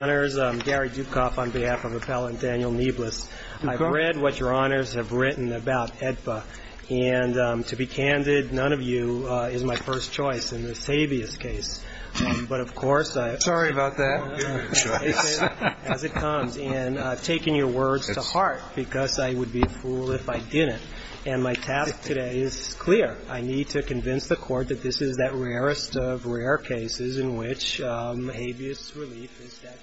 I'm Gary Dukoff on behalf of Appellant Daniel Neblas. I've read what Your Honors have written about AEDPA, and to be candid, none of you is my first choice in this habeas case. But, of course, I've taken your words to heart because I would be a fool if I didn't. And my task today is clear. I need to convince the Court that this is that rarest of rare cases in which habeas relief is statutorily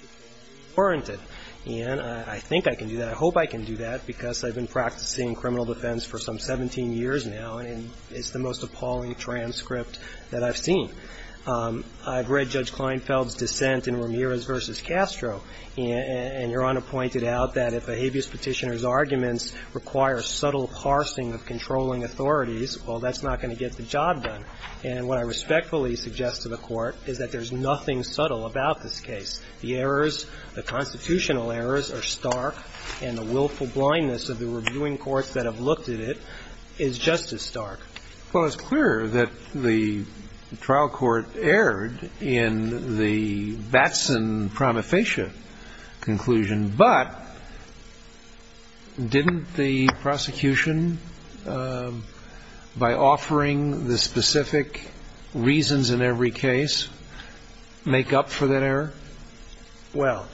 warranted. And I think I can do that. I hope I can do that because I've been practicing criminal defense for some 17 years now, and it's the most appalling transcript that I've seen. I've read Judge Kleinfeld's dissent in Ramirez v. Castro, and Your Honor pointed out that if a habeas petitioner's arguments require subtle parsing of controlling authorities, well, that's not going to get the job done. And what I respectfully suggest to the Court is that there's nothing subtle about this case. The errors, the constitutional errors are stark, and the willful blindness of the reviewing courts that have looked at it is just as stark. Well, it's clear that the trial court erred in the Batson-Prometheus conclusion, but didn't the prosecution, by offering the specific reasons in every case, make up for that error? Well,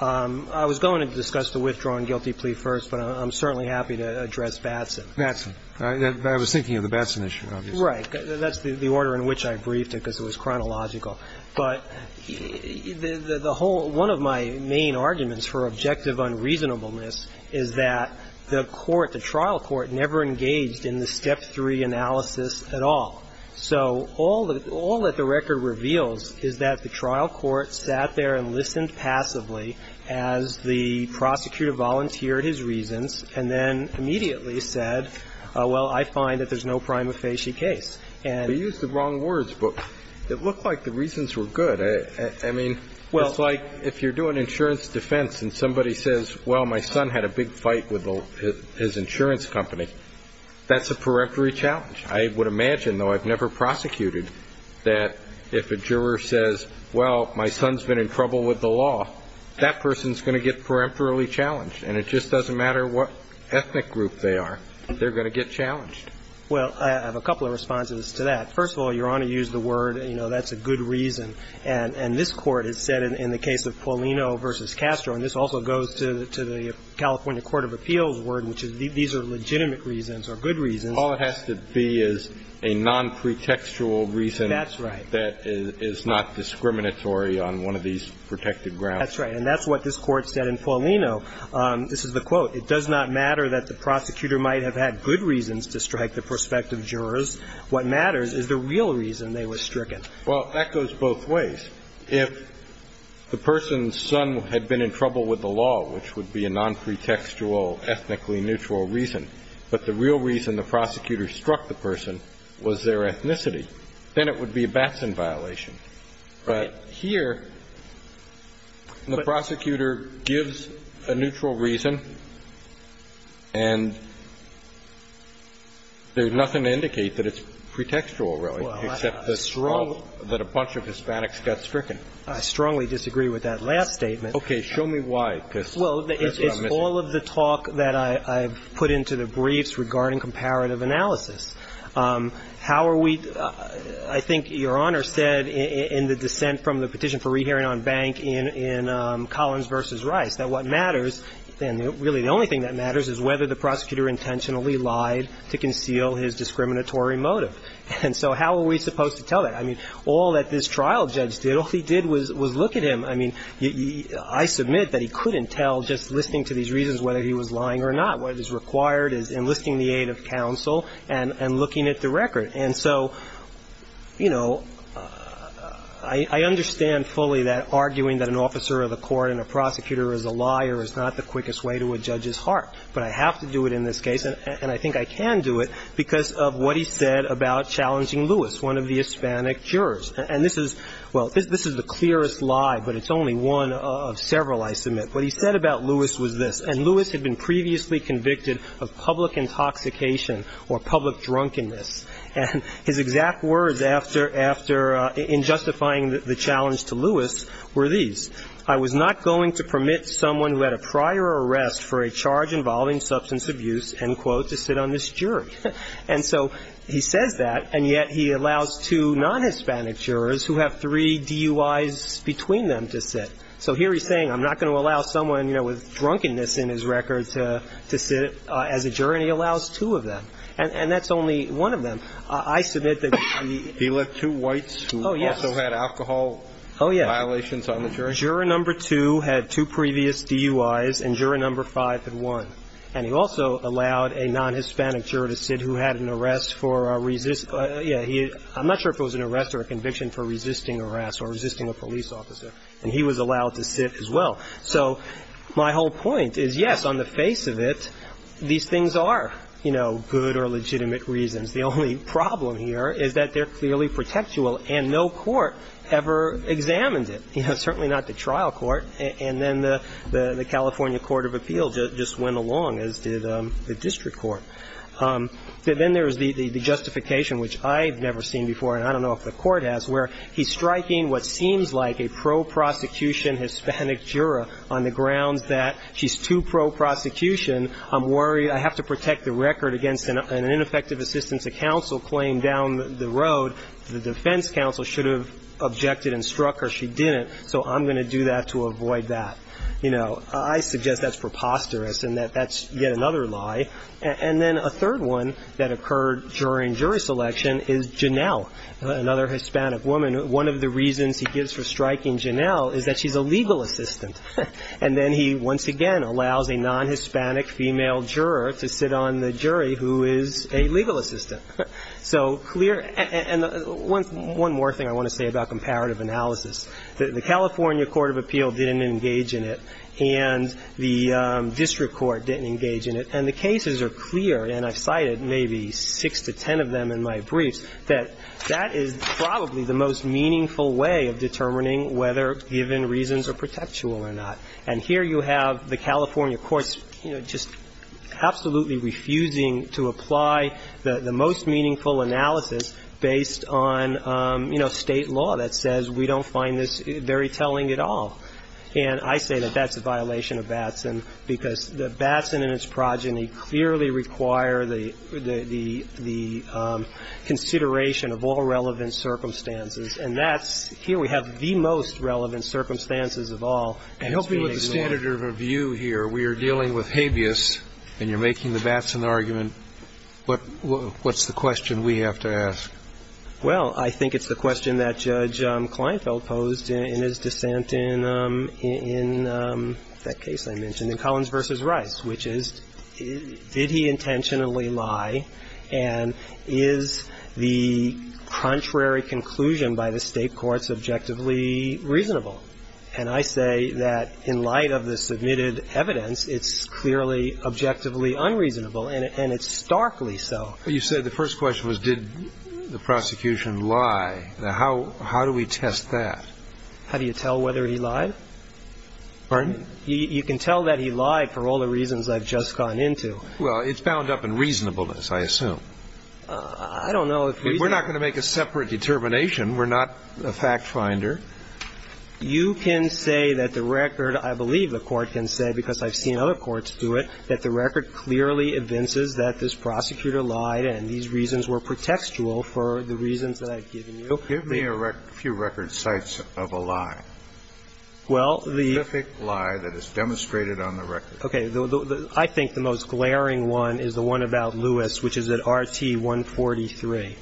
I was going to discuss the withdrawing guilty plea first, but I'm certainly happy to address Batson. Batson. I was thinking of the Batson issue, obviously. Right. That's the order in which I briefed it because it was chronological. But the whole one of my main arguments for objective unreasonableness is that the court, the trial court, never engaged in the step three analysis at all. So all that the record reveals is that the trial court sat there and listened passively as the prosecutor volunteered his reasons and then immediately said, well, I find that there's no prima facie case. And we used the wrong words, but it looked like the reasons were good. I mean, it's like if you're doing insurance defense and somebody says, well, my son had a big fight with his insurance company, that's a peremptory challenge. I would imagine, though I've never prosecuted, that if a juror says, well, my son's been in trouble with the law, that person's going to get peremptorily challenged, and it just doesn't matter what ethnic group they are, they're going to get challenged. Well, I have a couple of responses to that. First of all, Your Honor used the word, you know, that's a good reason. And this Court has said in the case of Paulino v. Castro, and this also goes to the California Court of Appeals word, which is these are legitimate reasons or good reasons. All it has to be is a nonpretextual reason. That's right. That is not discriminatory on one of these protected grounds. That's right. And that's what this Court said in Paulino. This is the quote. It does not matter that the prosecutor might have had good reasons to strike the prospective jurors. What matters is the real reason they were stricken. Well, that goes both ways. If the person's son had been in trouble with the law, which would be a nonpretextual, ethnically neutral reason, but the real reason the prosecutor struck the person was their ethnicity, then it would be a Batson violation. Right. But here, the prosecutor gives a neutral reason, and there's nothing to indicate that it's pretextual, really, except that a bunch of Hispanics got stricken. I strongly disagree with that last statement. Okay. Show me why, because that's what I'm missing. Well, it's all of the talk that I've put into the briefs regarding comparative analysis. How are we – I think Your Honor said in the dissent from the petition for rehearing on bank in Collins v. Rice that what matters, and really the only thing that matters, is whether the prosecutor intentionally lied to conceal his discriminatory motive. And so how are we supposed to tell that? I mean, all that this trial judge did, all he did was look at him. I mean, I submit that he couldn't tell just listening to these reasons whether he was lying or not. What is required is enlisting the aid of counsel and looking at the record. And so, you know, I understand fully that arguing that an officer of the court and a prosecutor is a liar is not the quickest way to a judge's heart. But I have to do it in this case, and I think I can do it, because of what he said about challenging Lewis, one of the Hispanic jurors. And this is – well, this is the clearest lie, but it's only one of several I submit. What he said about Lewis was this. And Lewis had been previously convicted of public intoxication or public drunkenness. And his exact words after – after – in justifying the challenge to Lewis were these. I was not going to permit someone who had a prior arrest for a charge involving substance abuse, end quote, to sit on this jury. And so he says that, and yet he allows two non-Hispanic jurors who have three DUIs between them to sit. So here he's saying I'm not going to allow someone, you know, with drunkenness in his record to sit as a juror, and he allows two of them. And that's only one of them. I submit that the – He let two whites who also had alcohol violations on the jury? Oh, yes. Juror number two had two previous DUIs, and juror number five had one. And he also allowed a non-Hispanic juror to sit who had an arrest for a – yeah, he – I'm not sure if it was an arrest or a conviction for resisting arrest or resisting a police officer. And he was allowed to sit as well. So my whole point is, yes, on the face of it, these things are, you know, good or legitimate reasons. The only problem here is that they're clearly protectual, and no court ever examines it, you know, certainly not the trial court. And then the California Court of Appeals just went along, as did the district court. Then there's the justification, which I've never seen before, and I don't know if the Hispanic juror on the grounds that she's too pro-prosecution. I'm worried. I have to protect the record against an ineffective assistance of counsel claim down the road. The defense counsel should have objected and struck her. She didn't. So I'm going to do that to avoid that. You know, I suggest that's preposterous and that that's yet another lie. And then a third one that occurred during jury selection is Janelle, another Hispanic woman. And one of the reasons he gives for striking Janelle is that she's a legal assistant. And then he, once again, allows a non-Hispanic female juror to sit on the jury who is a legal assistant. So clear. And one more thing I want to say about comparative analysis. The California Court of Appeals didn't engage in it, and the district court didn't engage in it. And the cases are clear, and I've cited maybe six to ten of them in my briefs, that that is probably the most meaningful way of determining whether given reasons are protectual or not. And here you have the California courts, you know, just absolutely refusing to apply the most meaningful analysis based on, you know, State law that says we don't find this very telling at all. And I say that that's a violation of Batson because the Batson and its progeny clearly require the consideration of all relevant circumstances. And that's here we have the most relevant circumstances of all. And it's being ignored. And help me with the standard of review here. We are dealing with habeas, and you're making the Batson argument. What's the question we have to ask? Well, I think it's the question that Judge Kleinfeld posed in his dissent in that case I mentioned in Collins v. Rice, which is did he intentionally lie, and is the contrary conclusion by the State courts objectively reasonable? And I say that in light of the submitted evidence, it's clearly objectively unreasonable, and it's starkly so. But you said the first question was did the prosecution lie. Now, how do we test that? How do you tell whether he lied? Pardon? You can tell that he lied for all the reasons I've just gone into. Well, it's bound up in reasonableness, I assume. I don't know if reasonableness. We're not going to make a separate determination. We're not a fact finder. You can say that the record, I believe the Court can say because I've seen other courts do it, that the record clearly evinces that this prosecutor lied and these reasons were pretextual for the reasons that I've given you. Give me a few record sites of a lie. Well, the ---- A specific lie that is demonstrated on the record. Okay. I think the most glaring one is the one about Lewis, which is at RT 143.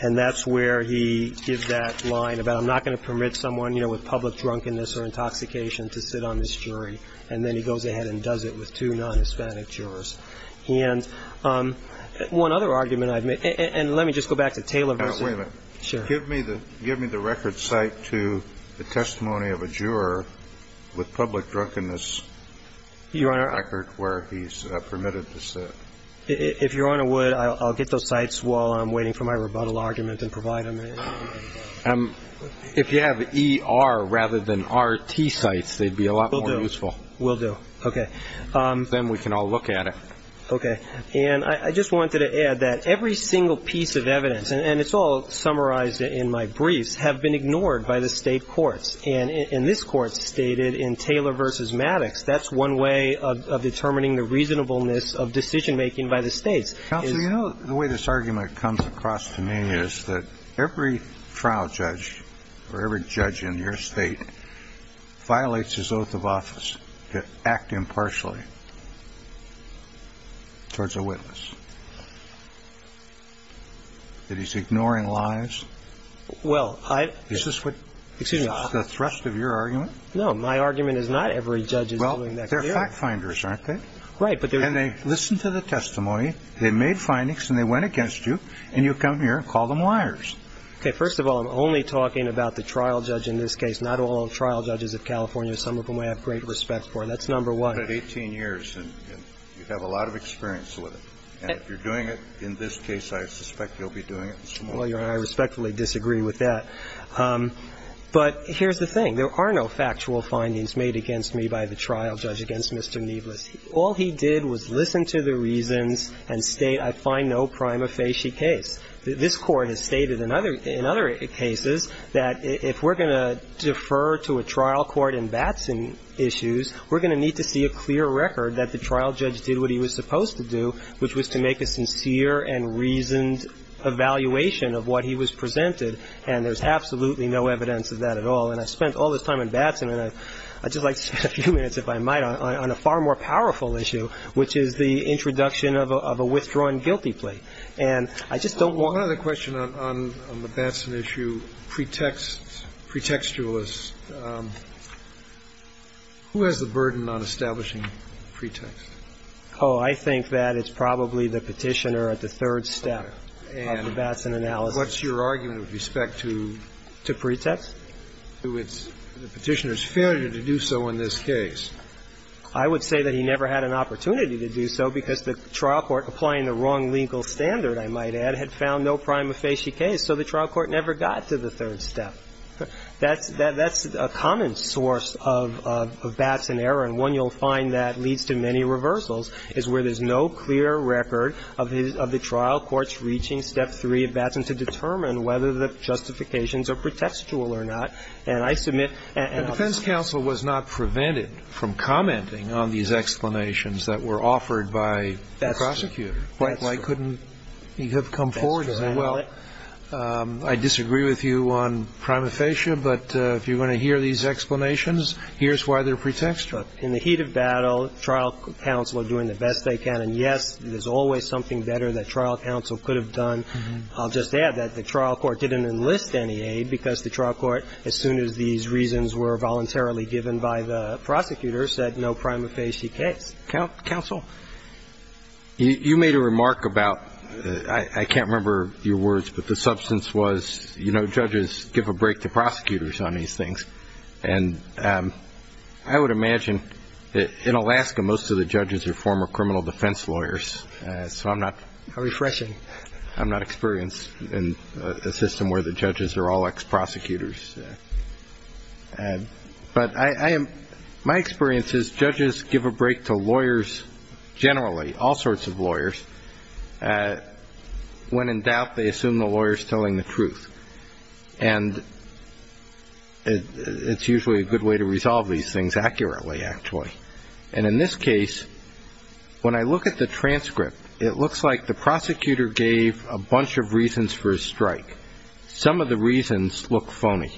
And that's where he gives that line about I'm not going to permit someone, you know, with public drunkenness or intoxication to sit on this jury. And then he goes ahead and does it with two non-Hispanic jurors. And one other argument I've made, and let me just go back to Taylor v. ---- Now, wait a minute. Give me the record site to the testimony of a juror with public drunkenness record where he's permitted to sit. If Your Honor would, I'll get those sites while I'm waiting for my rebuttal argument and provide them. If you have ER rather than RT sites, they'd be a lot more useful. Will do. Will do. Okay. Then we can all look at it. Okay. And I just wanted to add that every single piece of evidence, and it's all summarized in my briefs, have been ignored by the State courts. And this Court stated in Taylor v. Maddox, that's one way of determining the reasonableness of decision-making by the States. Counsel, you know, the way this argument comes across to me is that every trial judge or every judge in your State violates his oath of office to act impartially towards a witness, that he's ignoring lies. Well, I ---- Is this what ---- Excuse me. Is this the thrust of your argument? No. My argument is not every judge is doing that clearly. Well, they're fact-finders, aren't they? Right. And they listen to the testimony, they made findings, and they went against you, and you come here and call them liars. Okay. First of all, I'm only talking about the trial judge in this case, not all trial judges of California, some of whom I have great respect for. That's number one. You've done it 18 years, and you have a lot of experience with it. And if you're doing it in this case, I suspect you'll be doing it in some other cases. Well, Your Honor, I respectfully disagree with that. But here's the thing. There are no factual findings made against me by the trial judge against Mr. Neiblus. All he did was listen to the reasons and state, I find no prima facie case. This Court has stated in other cases that if we're going to defer to a trial court in Batson issues, we're going to need to see a clear record that the trial judge did what he was supposed to do, which was to make a sincere and reasoned evaluation of what he was presented. And there's absolutely no evidence of that at all. And I've spent all this time in Batson, and I'd just like to spend a few minutes, if I might, on a far more powerful issue, which is the introduction of a withdrawn guilty plea. And I just don't want to ---- I just don't want to be a pretextualist. Who has the burden on establishing pretext? Oh, I think that it's probably the Petitioner at the third step of the Batson analysis. And what's your argument with respect to ---- To pretext? To the Petitioner's failure to do so in this case. I would say that he never had an opportunity to do so because the trial court, applying the wrong legal standard, I might add, had found no prima facie case. So the trial court never got to the third step. That's a common source of Batson error, and one you'll find that leads to many reversals is where there's no clear record of the trial court's reaching step three at Batson to determine whether the justifications are pretextual or not. And I submit ---- And defense counsel was not prevented from commenting on these explanations that were offered by the prosecutor. That's true. That's true. He could have come forward and said, well, I disagree with you on prima facie, but if you're going to hear these explanations, here's why they're pretextual. In the heat of battle, trial counsel are doing the best they can. And, yes, there's always something better that trial counsel could have done. I'll just add that the trial court didn't enlist any aid because the trial court, as soon as these reasons were voluntarily given by the prosecutor, said no prima facie case. Counsel? You made a remark about ---- I can't remember your words, but the substance was judges give a break to prosecutors on these things. And I would imagine that in Alaska most of the judges are former criminal defense lawyers. So I'm not ---- How refreshing. I'm not experienced in a system where the judges are all ex-prosecutors. But I am ---- my experience is judges give a break to lawyers generally, all sorts of lawyers, when in doubt they assume the lawyer is telling the truth. And it's usually a good way to resolve these things accurately, actually. And in this case, when I look at the transcript, it looks like the prosecutor gave a bunch of reasons for his strike. Some of the reasons look phony,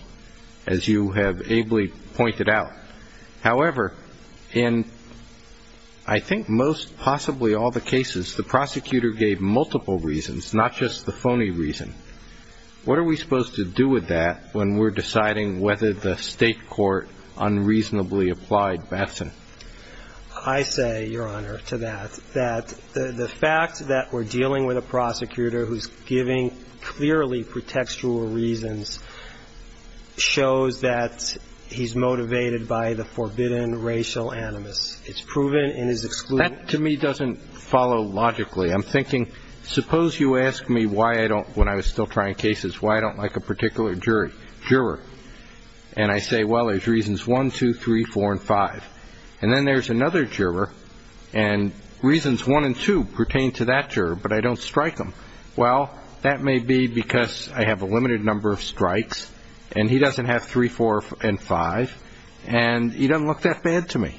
as you have ably pointed out. However, in I think most, possibly all the cases, the prosecutor gave multiple reasons, not just the phony reason. What are we supposed to do with that when we're deciding whether the State court unreasonably applied Batson? I say, Your Honor, to that, that the fact that we're dealing with a prosecutor who's giving clearly pretextual reasons shows that he's motivated by the forbidden racial animus. It's proven in his exclusion. That, to me, doesn't follow logically. I'm thinking, suppose you ask me why I don't, when I was still trying cases, why I don't like a particular jury, juror. And I say, well, there's reasons one, two, three, four, and five. And then there's another juror, and reasons one and two pertain to that juror, but I don't strike them. Well, that may be because I have a limited number of strikes, and he doesn't have three, four, and five, and he doesn't look that bad to me.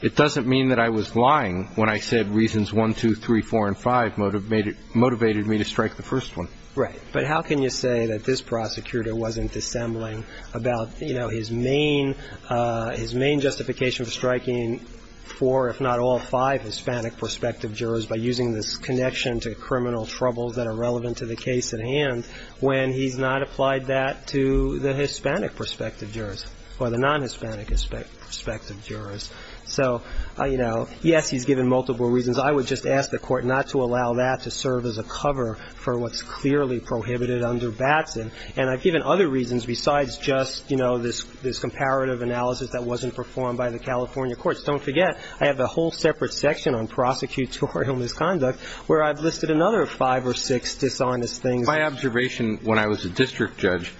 It doesn't mean that I was lying when I said reasons one, two, three, four, and five motivated me to strike the first one. Right. But how can you say that this prosecutor wasn't dissembling about, you know, his main justification for striking four, if not all five Hispanic prospective jurors by using this connection to criminal troubles that are relevant to the case at hand when he's not applied that to the Hispanic prospective jurors or the non-Hispanic prospective jurors? So, you know, yes, he's given multiple reasons. I would just ask the Court not to allow that to serve as a cover for what's clearly prohibited under Batson. And I've given other reasons besides just, you know, this comparative analysis that wasn't performed by the California courts. Don't forget, I have a whole separate section on prosecutorial misconduct where I've listed another five or six dishonest things. My observation when I was a district judge,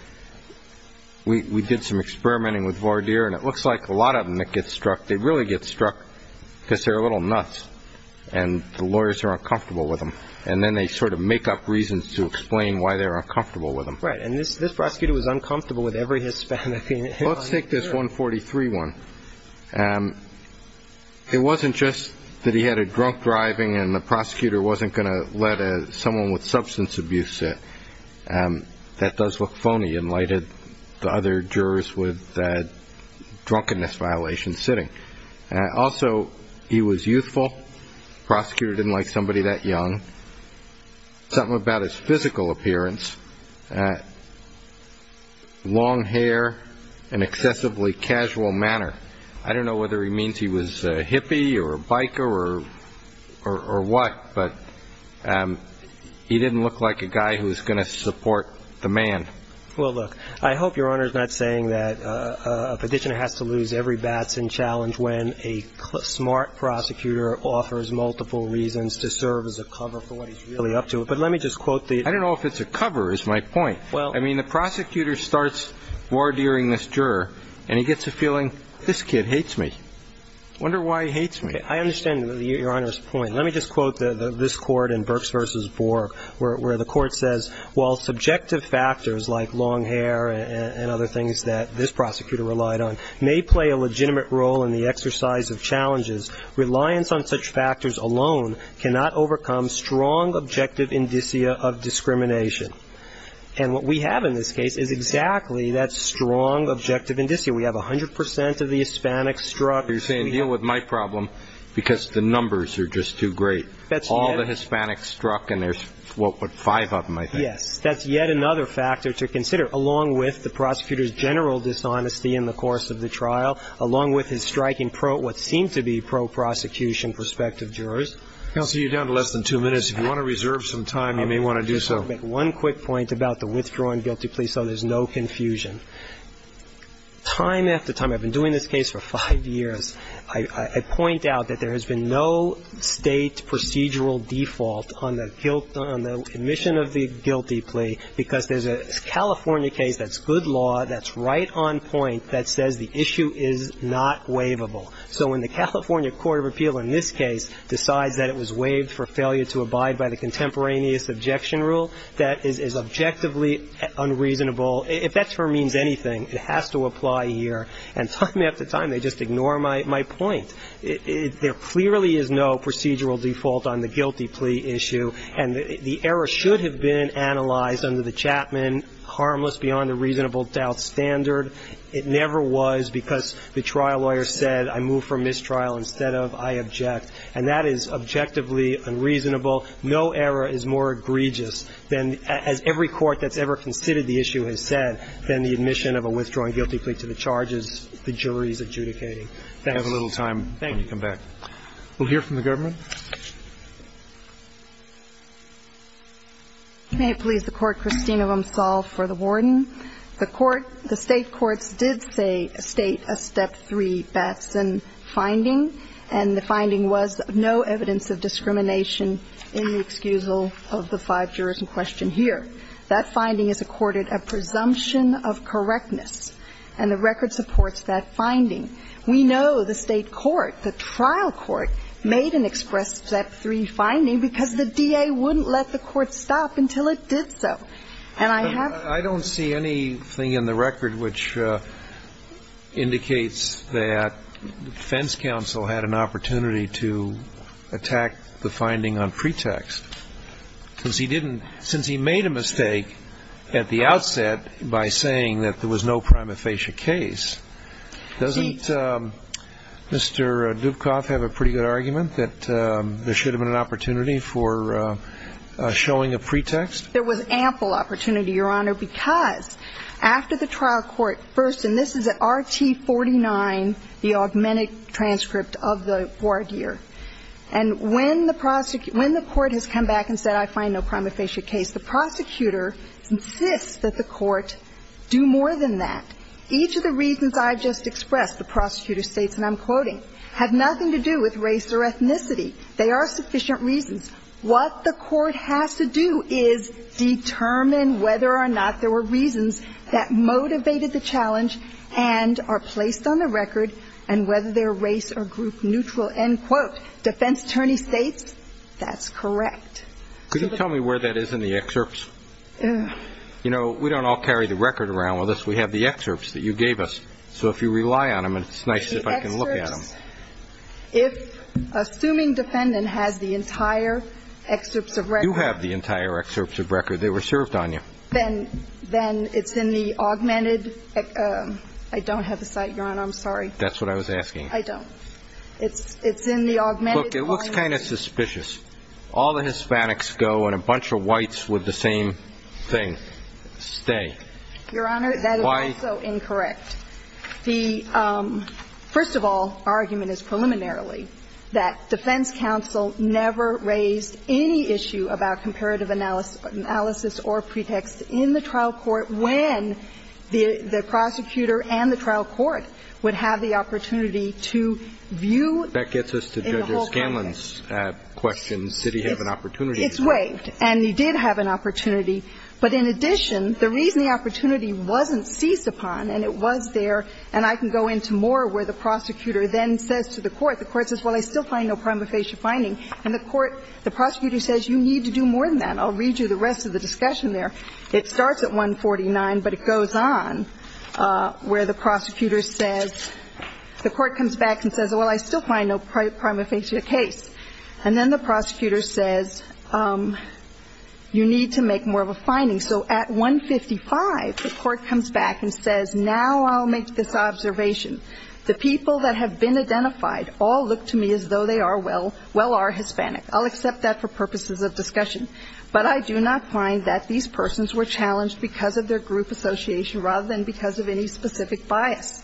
we did some experimenting with Vardir, and it looks like a lot of them that get struck, they really get struck because they're a little nuts and the lawyers are uncomfortable with them, and then they sort of make up reasons to explain why they're uncomfortable with them. Right. And this prosecutor was uncomfortable with every Hispanic. Let's take this 143 one. It wasn't just that he had a drunk driving and the prosecutor wasn't going to let someone with substance abuse sit. That does look phony in light of the other jurors with drunkenness violations sitting. Also, he was youthful. The prosecutor didn't like somebody that young. Something about his physical appearance. Long hair, an excessively casual manner. I don't know whether he means he was a hippie or a biker or what, but he didn't look like a guy who was going to support the man. Well, look, I hope Your Honor is not saying that a petitioner has to lose every bats and challenge when a smart prosecutor offers multiple reasons to serve as a cover for what he's really up to. But let me just quote the I don't know if it's a cover is my point. I mean, the prosecutor starts war-dearing this juror and he gets a feeling, this kid hates me. I wonder why he hates me. I understand Your Honor's point. Let me just quote this Court in Birx v. Borg where the Court says, while subjective factors like long hair and other things that this prosecutor relied on may play a legitimate role in the exercise of challenges, reliance on such factors alone cannot overcome strong objective indicia of discrimination. And what we have in this case is exactly that strong objective indicia. We have 100 percent of the Hispanics struck. You're saying deal with my problem because the numbers are just too great. All the Hispanics struck and there's what, five of them I think. Yes, that's yet another factor to consider, along with the prosecutor's general dishonesty in the course of the trial, along with his striking what seems to be pro-prosecution prospective jurors. Counsel, you're down to less than two minutes. If you want to reserve some time, you may want to do so. One quick point about the withdrawing guilty plea so there's no confusion. Time after time, I've been doing this case for five years, I point out that there has been no State procedural default on the guilt, on the admission of the guilty plea because there's a California case that's good law, that's right on point that says the issue is not waivable. So when the California Court of Appeal in this case decides that it was waived for failure to abide by the contemporaneous objection rule, that is objectively unreasonable. If that term means anything, it has to apply here. And time after time, they just ignore my point. There clearly is no procedural default on the guilty plea issue, and the error should have been analyzed under the Chapman Harmless Beyond a Reasonable Doubt standard. It never was because the trial lawyer said I move for mistrial instead of I object. And that is objectively unreasonable. No error is more egregious than, as every court that's ever considered the issue has said, than the admission of a withdrawing guilty plea to the charges the jury is adjudicating. Thank you. We have a little time when you come back. Thank you. We'll hear from the government. May it please the Court, Kristina Vomsahl for the warden. The court, the State courts did state a step three Batson finding, and the finding was no evidence of discrimination in the excusal of the five jurors in question here. That finding is accorded a presumption of correctness, and the record supports that finding. We know the State court, the trial court, made an express step three finding because the DA wouldn't let the court stop until it did so. And I have to say. I don't see anything in the record which indicates that defense counsel had an opportunity to attack the finding on pretext, because he didn't, since he made a mistake at the outset by saying that there was no prima facie case, doesn't the State, Mr. Dubkoff, have a pretty good argument that there should have been an opportunity for showing a pretext? There was ample opportunity, Your Honor, because after the trial court first, and this is at RT 49, the augmented transcript of the ward year. And when the court has come back and said, I find no prima facie case, the prosecutor insists that the court do more than that. Each of the reasons I just expressed, the prosecutor states, and I'm quoting, have nothing to do with race or ethnicity. They are sufficient reasons. What the court has to do is determine whether or not there were reasons that motivated the challenge and are placed on the record, and whether they are race or group neutral, end quote. Defense attorney states that's correct. Could you tell me where that is in the excerpts? You know, we don't all carry the record around with us. We have the excerpts that you gave us. So if you rely on them, it's nice if I can look at them. The excerpts, if assuming defendant has the entire excerpts of record. You have the entire excerpts of record. They were served on you. Then it's in the augmented. I don't have the site, Your Honor. I'm sorry. That's what I was asking. I don't. It's in the augmented. Look, it looks kind of suspicious. All the Hispanics go and a bunch of whites with the same thing stay. Your Honor, that is also incorrect. Why? The, first of all, argument is preliminarily that defense counsel never raised any issue about comparative analysis or pretext in the trial court when the prosecutor and the trial court would have the opportunity to view in the whole context. That gets us to Judge Scanlon's question. Did he have an opportunity? It's waived. And he did have an opportunity. But in addition, the reason the opportunity wasn't seized upon, and it was there, and I can go into more where the prosecutor then says to the court, the court says, well, I still find no prima facie finding. And the court, the prosecutor says, you need to do more than that. I'll read you the rest of the discussion there. It starts at 149, but it goes on where the prosecutor says, the court comes back and says, well, I still find no prima facie case. And then the prosecutor says, you need to make more of a finding. So at 155, the court comes back and says, now I'll make this observation. The people that have been identified all look to me as though they are well, well are Hispanic. I'll accept that for purposes of discussion. But I do not find that these persons were challenged because of their group association rather than because of any specific bias.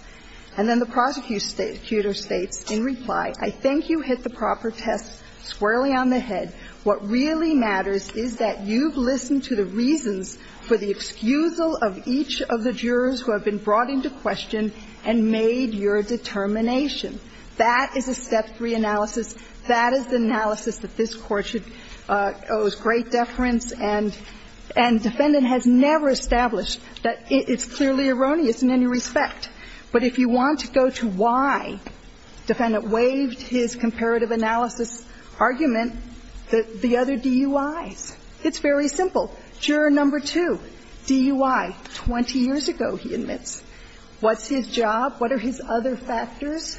And then the prosecutor states, in reply, I think you hit the proper test squarely on the head. What really matters is that you've listened to the reasons for the excusal of each of the jurors who have been brought into question and made your determination. That is a step three analysis. That is the analysis that this Court should owe great deference and defendant has never established. It's clearly erroneous in any respect. But if you want to go to why defendant waived his comparative analysis argument, the other DUIs, it's very simple. Juror number two, DUI, 20 years ago, he admits. What's his job? What are his other factors?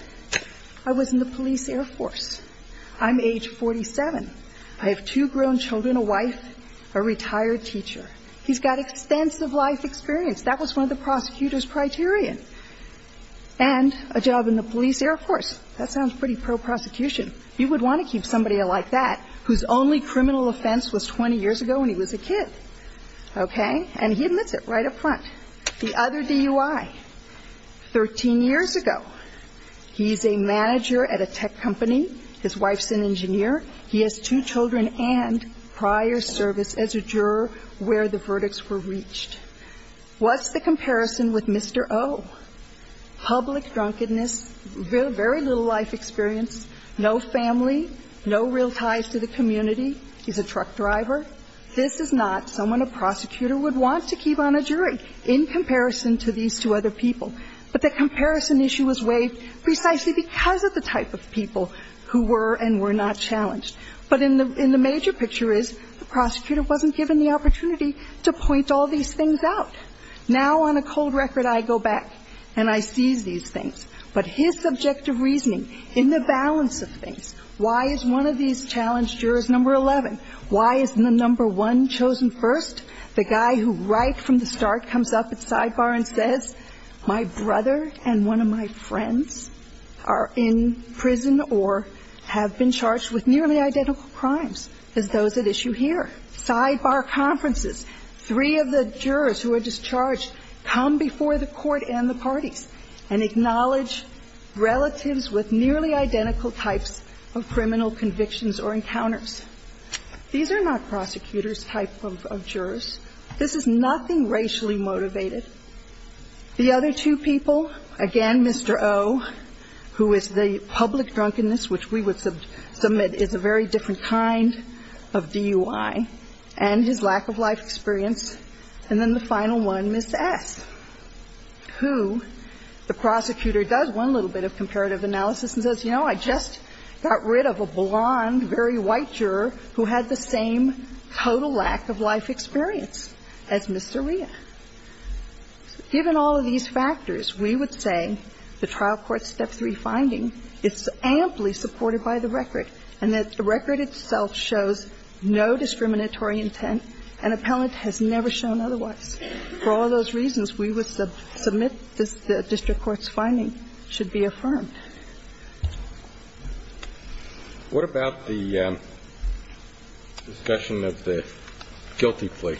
I was in the police air force. I'm age 47. I have two grown children, a wife, a retired teacher. He's got extensive life experience. That was one of the prosecutor's criterion. And a job in the police air force. That sounds pretty pro-prosecution. You would want to keep somebody like that whose only criminal offense was 20 years ago when he was a kid. Okay? And he admits it right up front. The other DUI, 13 years ago, he's a manager at a tech company. His wife's an engineer. He has two children and prior service as a juror where the verdicts were reached. What's the comparison with Mr. O? Public drunkenness, very little life experience, no family, no real ties to the community. He's a truck driver. This is not someone a prosecutor would want to keep on a jury in comparison to these two other people. But the comparison issue was waived precisely because of the type of people who were and were not challenged. But in the major picture is the prosecutor wasn't given the opportunity to point all these things out. Now on a cold record I go back and I seize these things. But his subjective reasoning in the balance of things, why is one of these challenged jurors number 11? Why isn't the number one chosen first? The guy who right from the start comes up at sidebar and says my brother and one of my friends are in prison or have been charged with nearly identical crimes as those at issue here. Sidebar conferences, three of the jurors who are discharged come before the court and the parties and acknowledge relatives with nearly identical types of criminal convictions or encounters. These are not prosecutor's type of jurors. This is nothing racially motivated. The other two people, again, Mr. O, who is the public drunkenness, which we would assume is a very different kind of DUI, and his lack of life experience. And then the final one, Ms. S, who the prosecutor does one little bit of comparative analysis and says, you know, I just got rid of a blond, very white juror who had the same total lack of life experience as Mr. Ria. Given all of these factors, we would say the trial court's step three finding is amply supported by the record and that the record itself shows no discriminatory intent and appellant has never shown otherwise. For all those reasons, we would submit the district court's finding should be affirmed. What about the discussion of the guilty plea?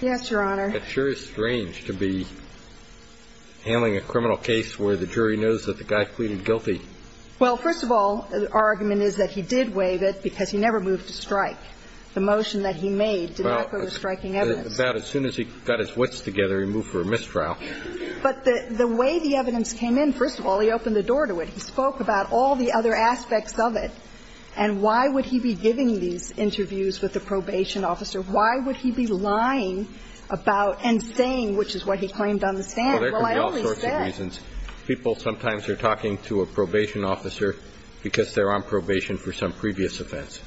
Yes, Your Honor. It sure is strange to be handling a criminal case where the jury knows that the guy pleaded guilty. Well, first of all, our argument is that he did waive it because he never moved to strike. The motion that he made did not go to striking evidence. About as soon as he got his wits together, he moved for a mistrial. But the way the evidence came in, first of all, he opened the door to it. He spoke about all the other aspects of it. And why would he be giving these interviews with the probation officer? Why would he be lying about and saying, which is what he claimed on the stand, well, I only said. For all sorts of reasons, people sometimes are talking to a probation officer because they're on probation for some previous offense.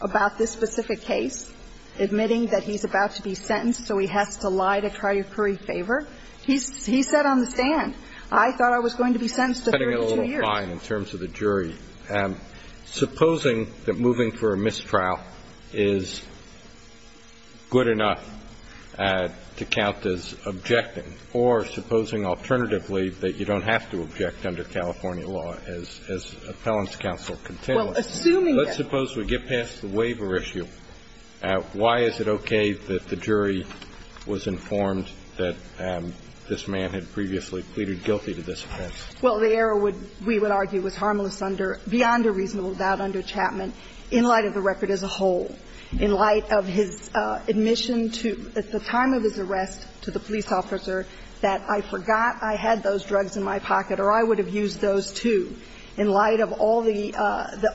About this specific case, admitting that he's about to be sentenced, so he has to lie to try to curry favor. He said on the stand, I thought I was going to be sentenced to 32 years. Cutting it a little fine in terms of the jury. Supposing that moving for a mistrial is good enough to count as objecting, or supposing alternatively that you don't have to object under California law as appellant's counsel contends. Well, assuming that. Let's suppose we get past the waiver issue. Why is it okay that the jury was informed that this man had previously pleaded guilty to this offense? Well, the error would, we would argue, was harmless under beyond a reasonable doubt under Chapman in light of the record as a whole, in light of his admission to, at the time of his arrest, to the police officer, that I forgot I had those drugs in my pocket or I would have used those, too, in light of all the,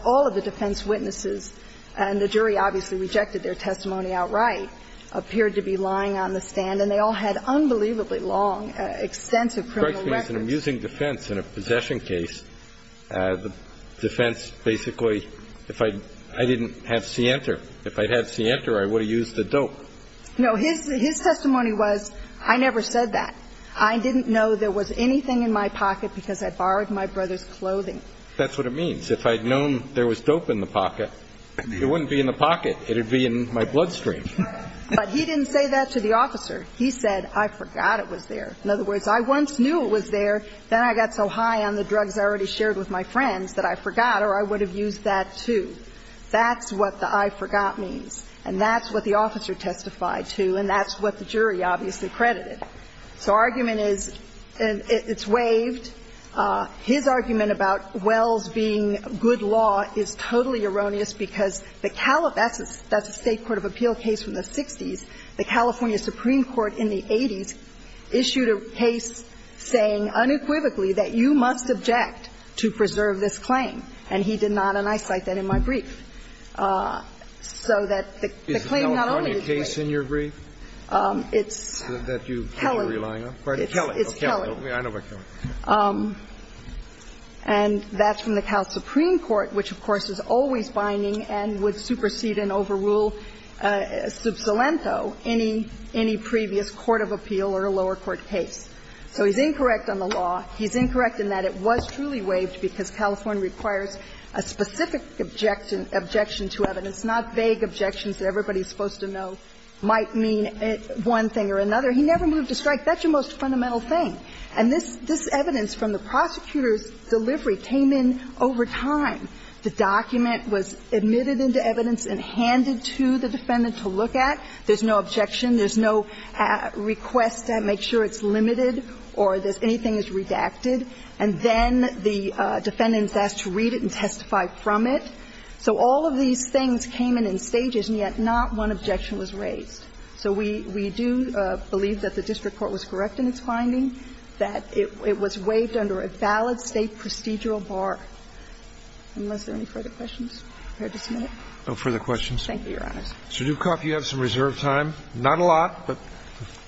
all of the defense witnesses. And the jury obviously rejected their testimony outright, appeared to be lying on the stand. And they all had unbelievably long, extensive criminal records. In using defense in a possession case, the defense basically, if I, I didn't have Cianter, if I had Cianter, I would have used the dope. No. His testimony was, I never said that. I didn't know there was anything in my pocket because I borrowed my brother's clothing. That's what it means. If I had known there was dope in the pocket, it wouldn't be in the pocket. It would be in my bloodstream. But he didn't say that to the officer. He said, I forgot it was there. In other words, I once knew it was there, then I got so high on the drugs I already shared with my friends that I forgot or I would have used that, too. That's what the I forgot means. And that's what the officer testified to, and that's what the jury obviously credited. So argument is, it's waived. His argument about Wells being good law is totally erroneous because the California that's a state court of appeal case from the 60s. The California Supreme Court in the 80s issued a case saying unequivocally that you must object to preserve this claim. And he did not. And I cite that in my brief. So that the claim not only is waived. It's Kelly. It's Kelly. And that's from the California Supreme Court, which, of course, is always binding and would supersede and overrule sub salento any previous court of appeal or a lower court case. So he's incorrect on the law. He's incorrect in that it was truly waived because California requires a specific objection to evidence, not vague objections that everybody's supposed to know might mean one thing or another. He never moved to strike. That's your most fundamental thing. And this evidence from the prosecutor's delivery came in over time. The document was admitted into evidence and handed to the defendant to look at. There's no objection. There's no request to make sure it's limited or anything is redacted. And then the defendant is asked to read it and testify from it. So all of these things came in in stages, and yet not one objection was raised. So we do believe that the district court was correct in its finding, that it was waived under a valid state procedural bar, unless there are any further questions. No further questions. Thank you, Your Honors. Mr. Dukoff, you have some reserve time. Not a lot, but.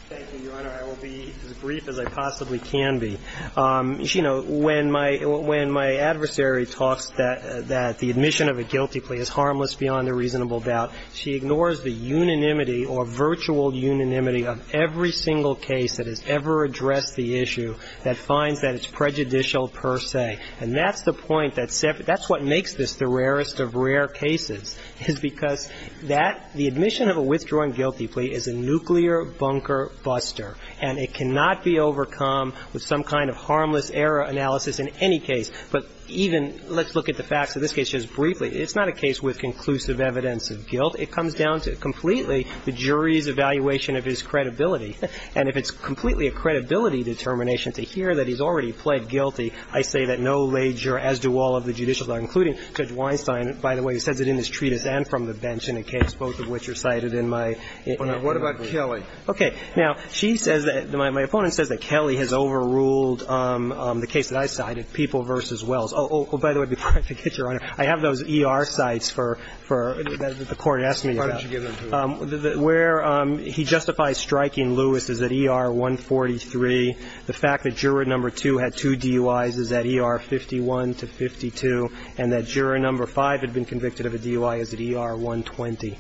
Thank you, Your Honor. I will be as brief as I possibly can be. You know, when my adversary talks that the admission of a guilty plea is harmless beyond a reasonable doubt, she ignores the unanimity or virtual unanimity of every single case that has ever addressed the issue that finds that it's prejudicial per se. And that's the point that's what makes this the rarest of rare cases, is because that, the admission of a withdrawing guilty plea is a nuclear bunker buster, and it cannot be overcome with some kind of harmless error analysis in any case. But even, let's look at the facts of this case just briefly. It's not a case with conclusive evidence of guilt. It comes down to completely the jury's evaluation of his credibility. And if it's completely a credibility determination to hear that he's already pled guilty, I say that no lager, as do all of the judicials, including Judge Weinstein. By the way, he says it in his treatise and from the bench in a case, both of which are cited in my. What about Kelly? Okay. Now, she says that my opponent says that Kelly has overruled the case that I cited, People v. Wells. Oh, by the way, before I forget, Your Honor, I have those ER sites for the court asked me about. Why don't you give them to us? Where he justifies striking Lewis is at ER 143. The fact that juror number two had two DUIs is at ER 51 to 52, and that juror number five had been convicted of a DUI is at ER 120.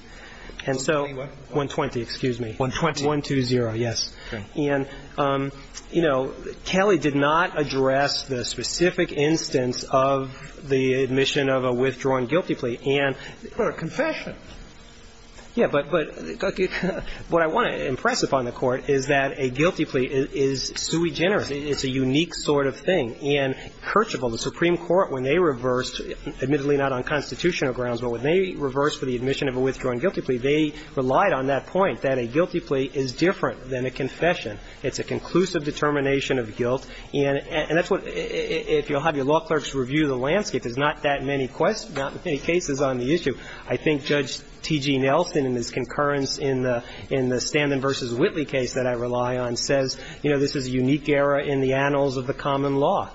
And so 120, excuse me. 120. 120, yes. Okay. And, you know, Kelly did not address the specific instance of the admission of a withdrawn guilty plea. But a confession. Yeah. But what I want to impress upon the Court is that a guilty plea is sui generis. It's a unique sort of thing. And Kirchhoff, the Supreme Court, when they reversed, admittedly not on constitutional grounds, but when they reversed for the admission of a withdrawn guilty plea, they relied on that point, that a guilty plea is different than a confession. It's a conclusive determination of guilt. And that's what, if you'll have your law clerks review the landscape, there's not that many cases on the issue. I think Judge T.G. Nelson, in his concurrence in the Stanton v. Whitley case that I rely on, says, you know, this is a unique era in the annals of the common law.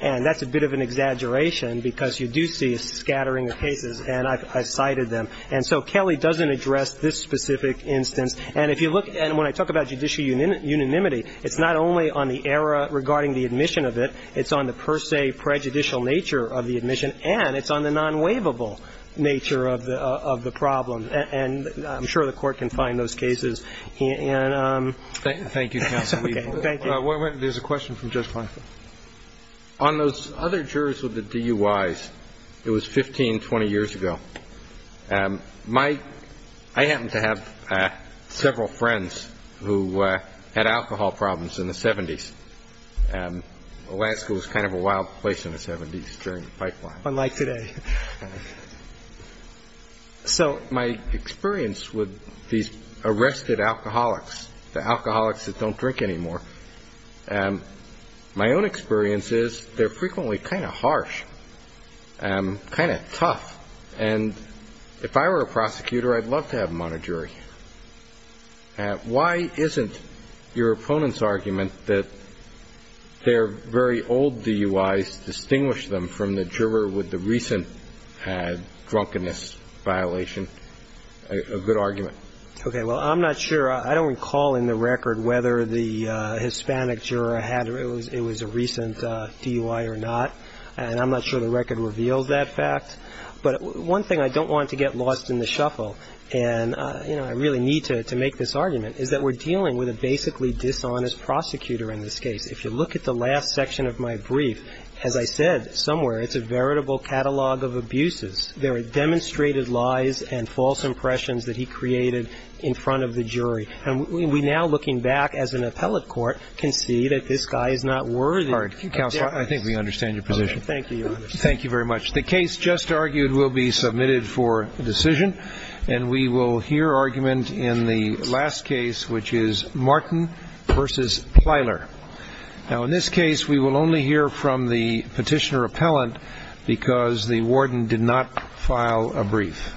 And that's a bit of an exaggeration, because you do see a scattering of cases, and I've cited them. And so Kelly doesn't address this specific instance. And if you look, and when I talk about judicial unanimity, it's not only on the era regarding the admission of it, it's on the per se prejudicial nature of the admission, and it's on the non-waivable nature of the problem. And I'm sure the Court can find those cases. And so, okay. Thank you. Thank you. There's a question from Judge Kleinfeld. On those other jurors with the DUIs, it was 15, 20 years ago. My – I happen to have several friends who had alcohol problems in the 70s. Alaska was kind of a wild place in the 70s during the pipeline. Unlike today. So my experience with these arrested alcoholics, the alcoholics that don't drink anymore, my own experience is they're frequently kind of harsh, kind of tough. And if I were a prosecutor, I'd love to have them on a jury. Why isn't your opponent's argument that their very old DUIs distinguish them from the juror with the recent drunkenness violation a good argument? Okay. Well, I'm not sure. I don't recall in the record whether the Hispanic juror had – it was a recent DUI or not. And I'm not sure the record reveals that fact. But one thing, I don't want to get lost in the shuffle. And, you know, I really need to make this argument, is that we're dealing with a basically dishonest prosecutor in this case. If you look at the last section of my brief, as I said, somewhere it's a veritable catalog of abuses. There are demonstrated lies and false impressions that he created in front of the jury. And we now, looking back as an appellate court, can see that this guy is not worthy. Counsel, I think we understand your position. Thank you. Thank you very much. The case just argued will be submitted for decision. And we will hear argument in the last case, which is Martin v. Plyler. Now, in this case, we will only hear from the petitioner appellant because the warden did not file a brief.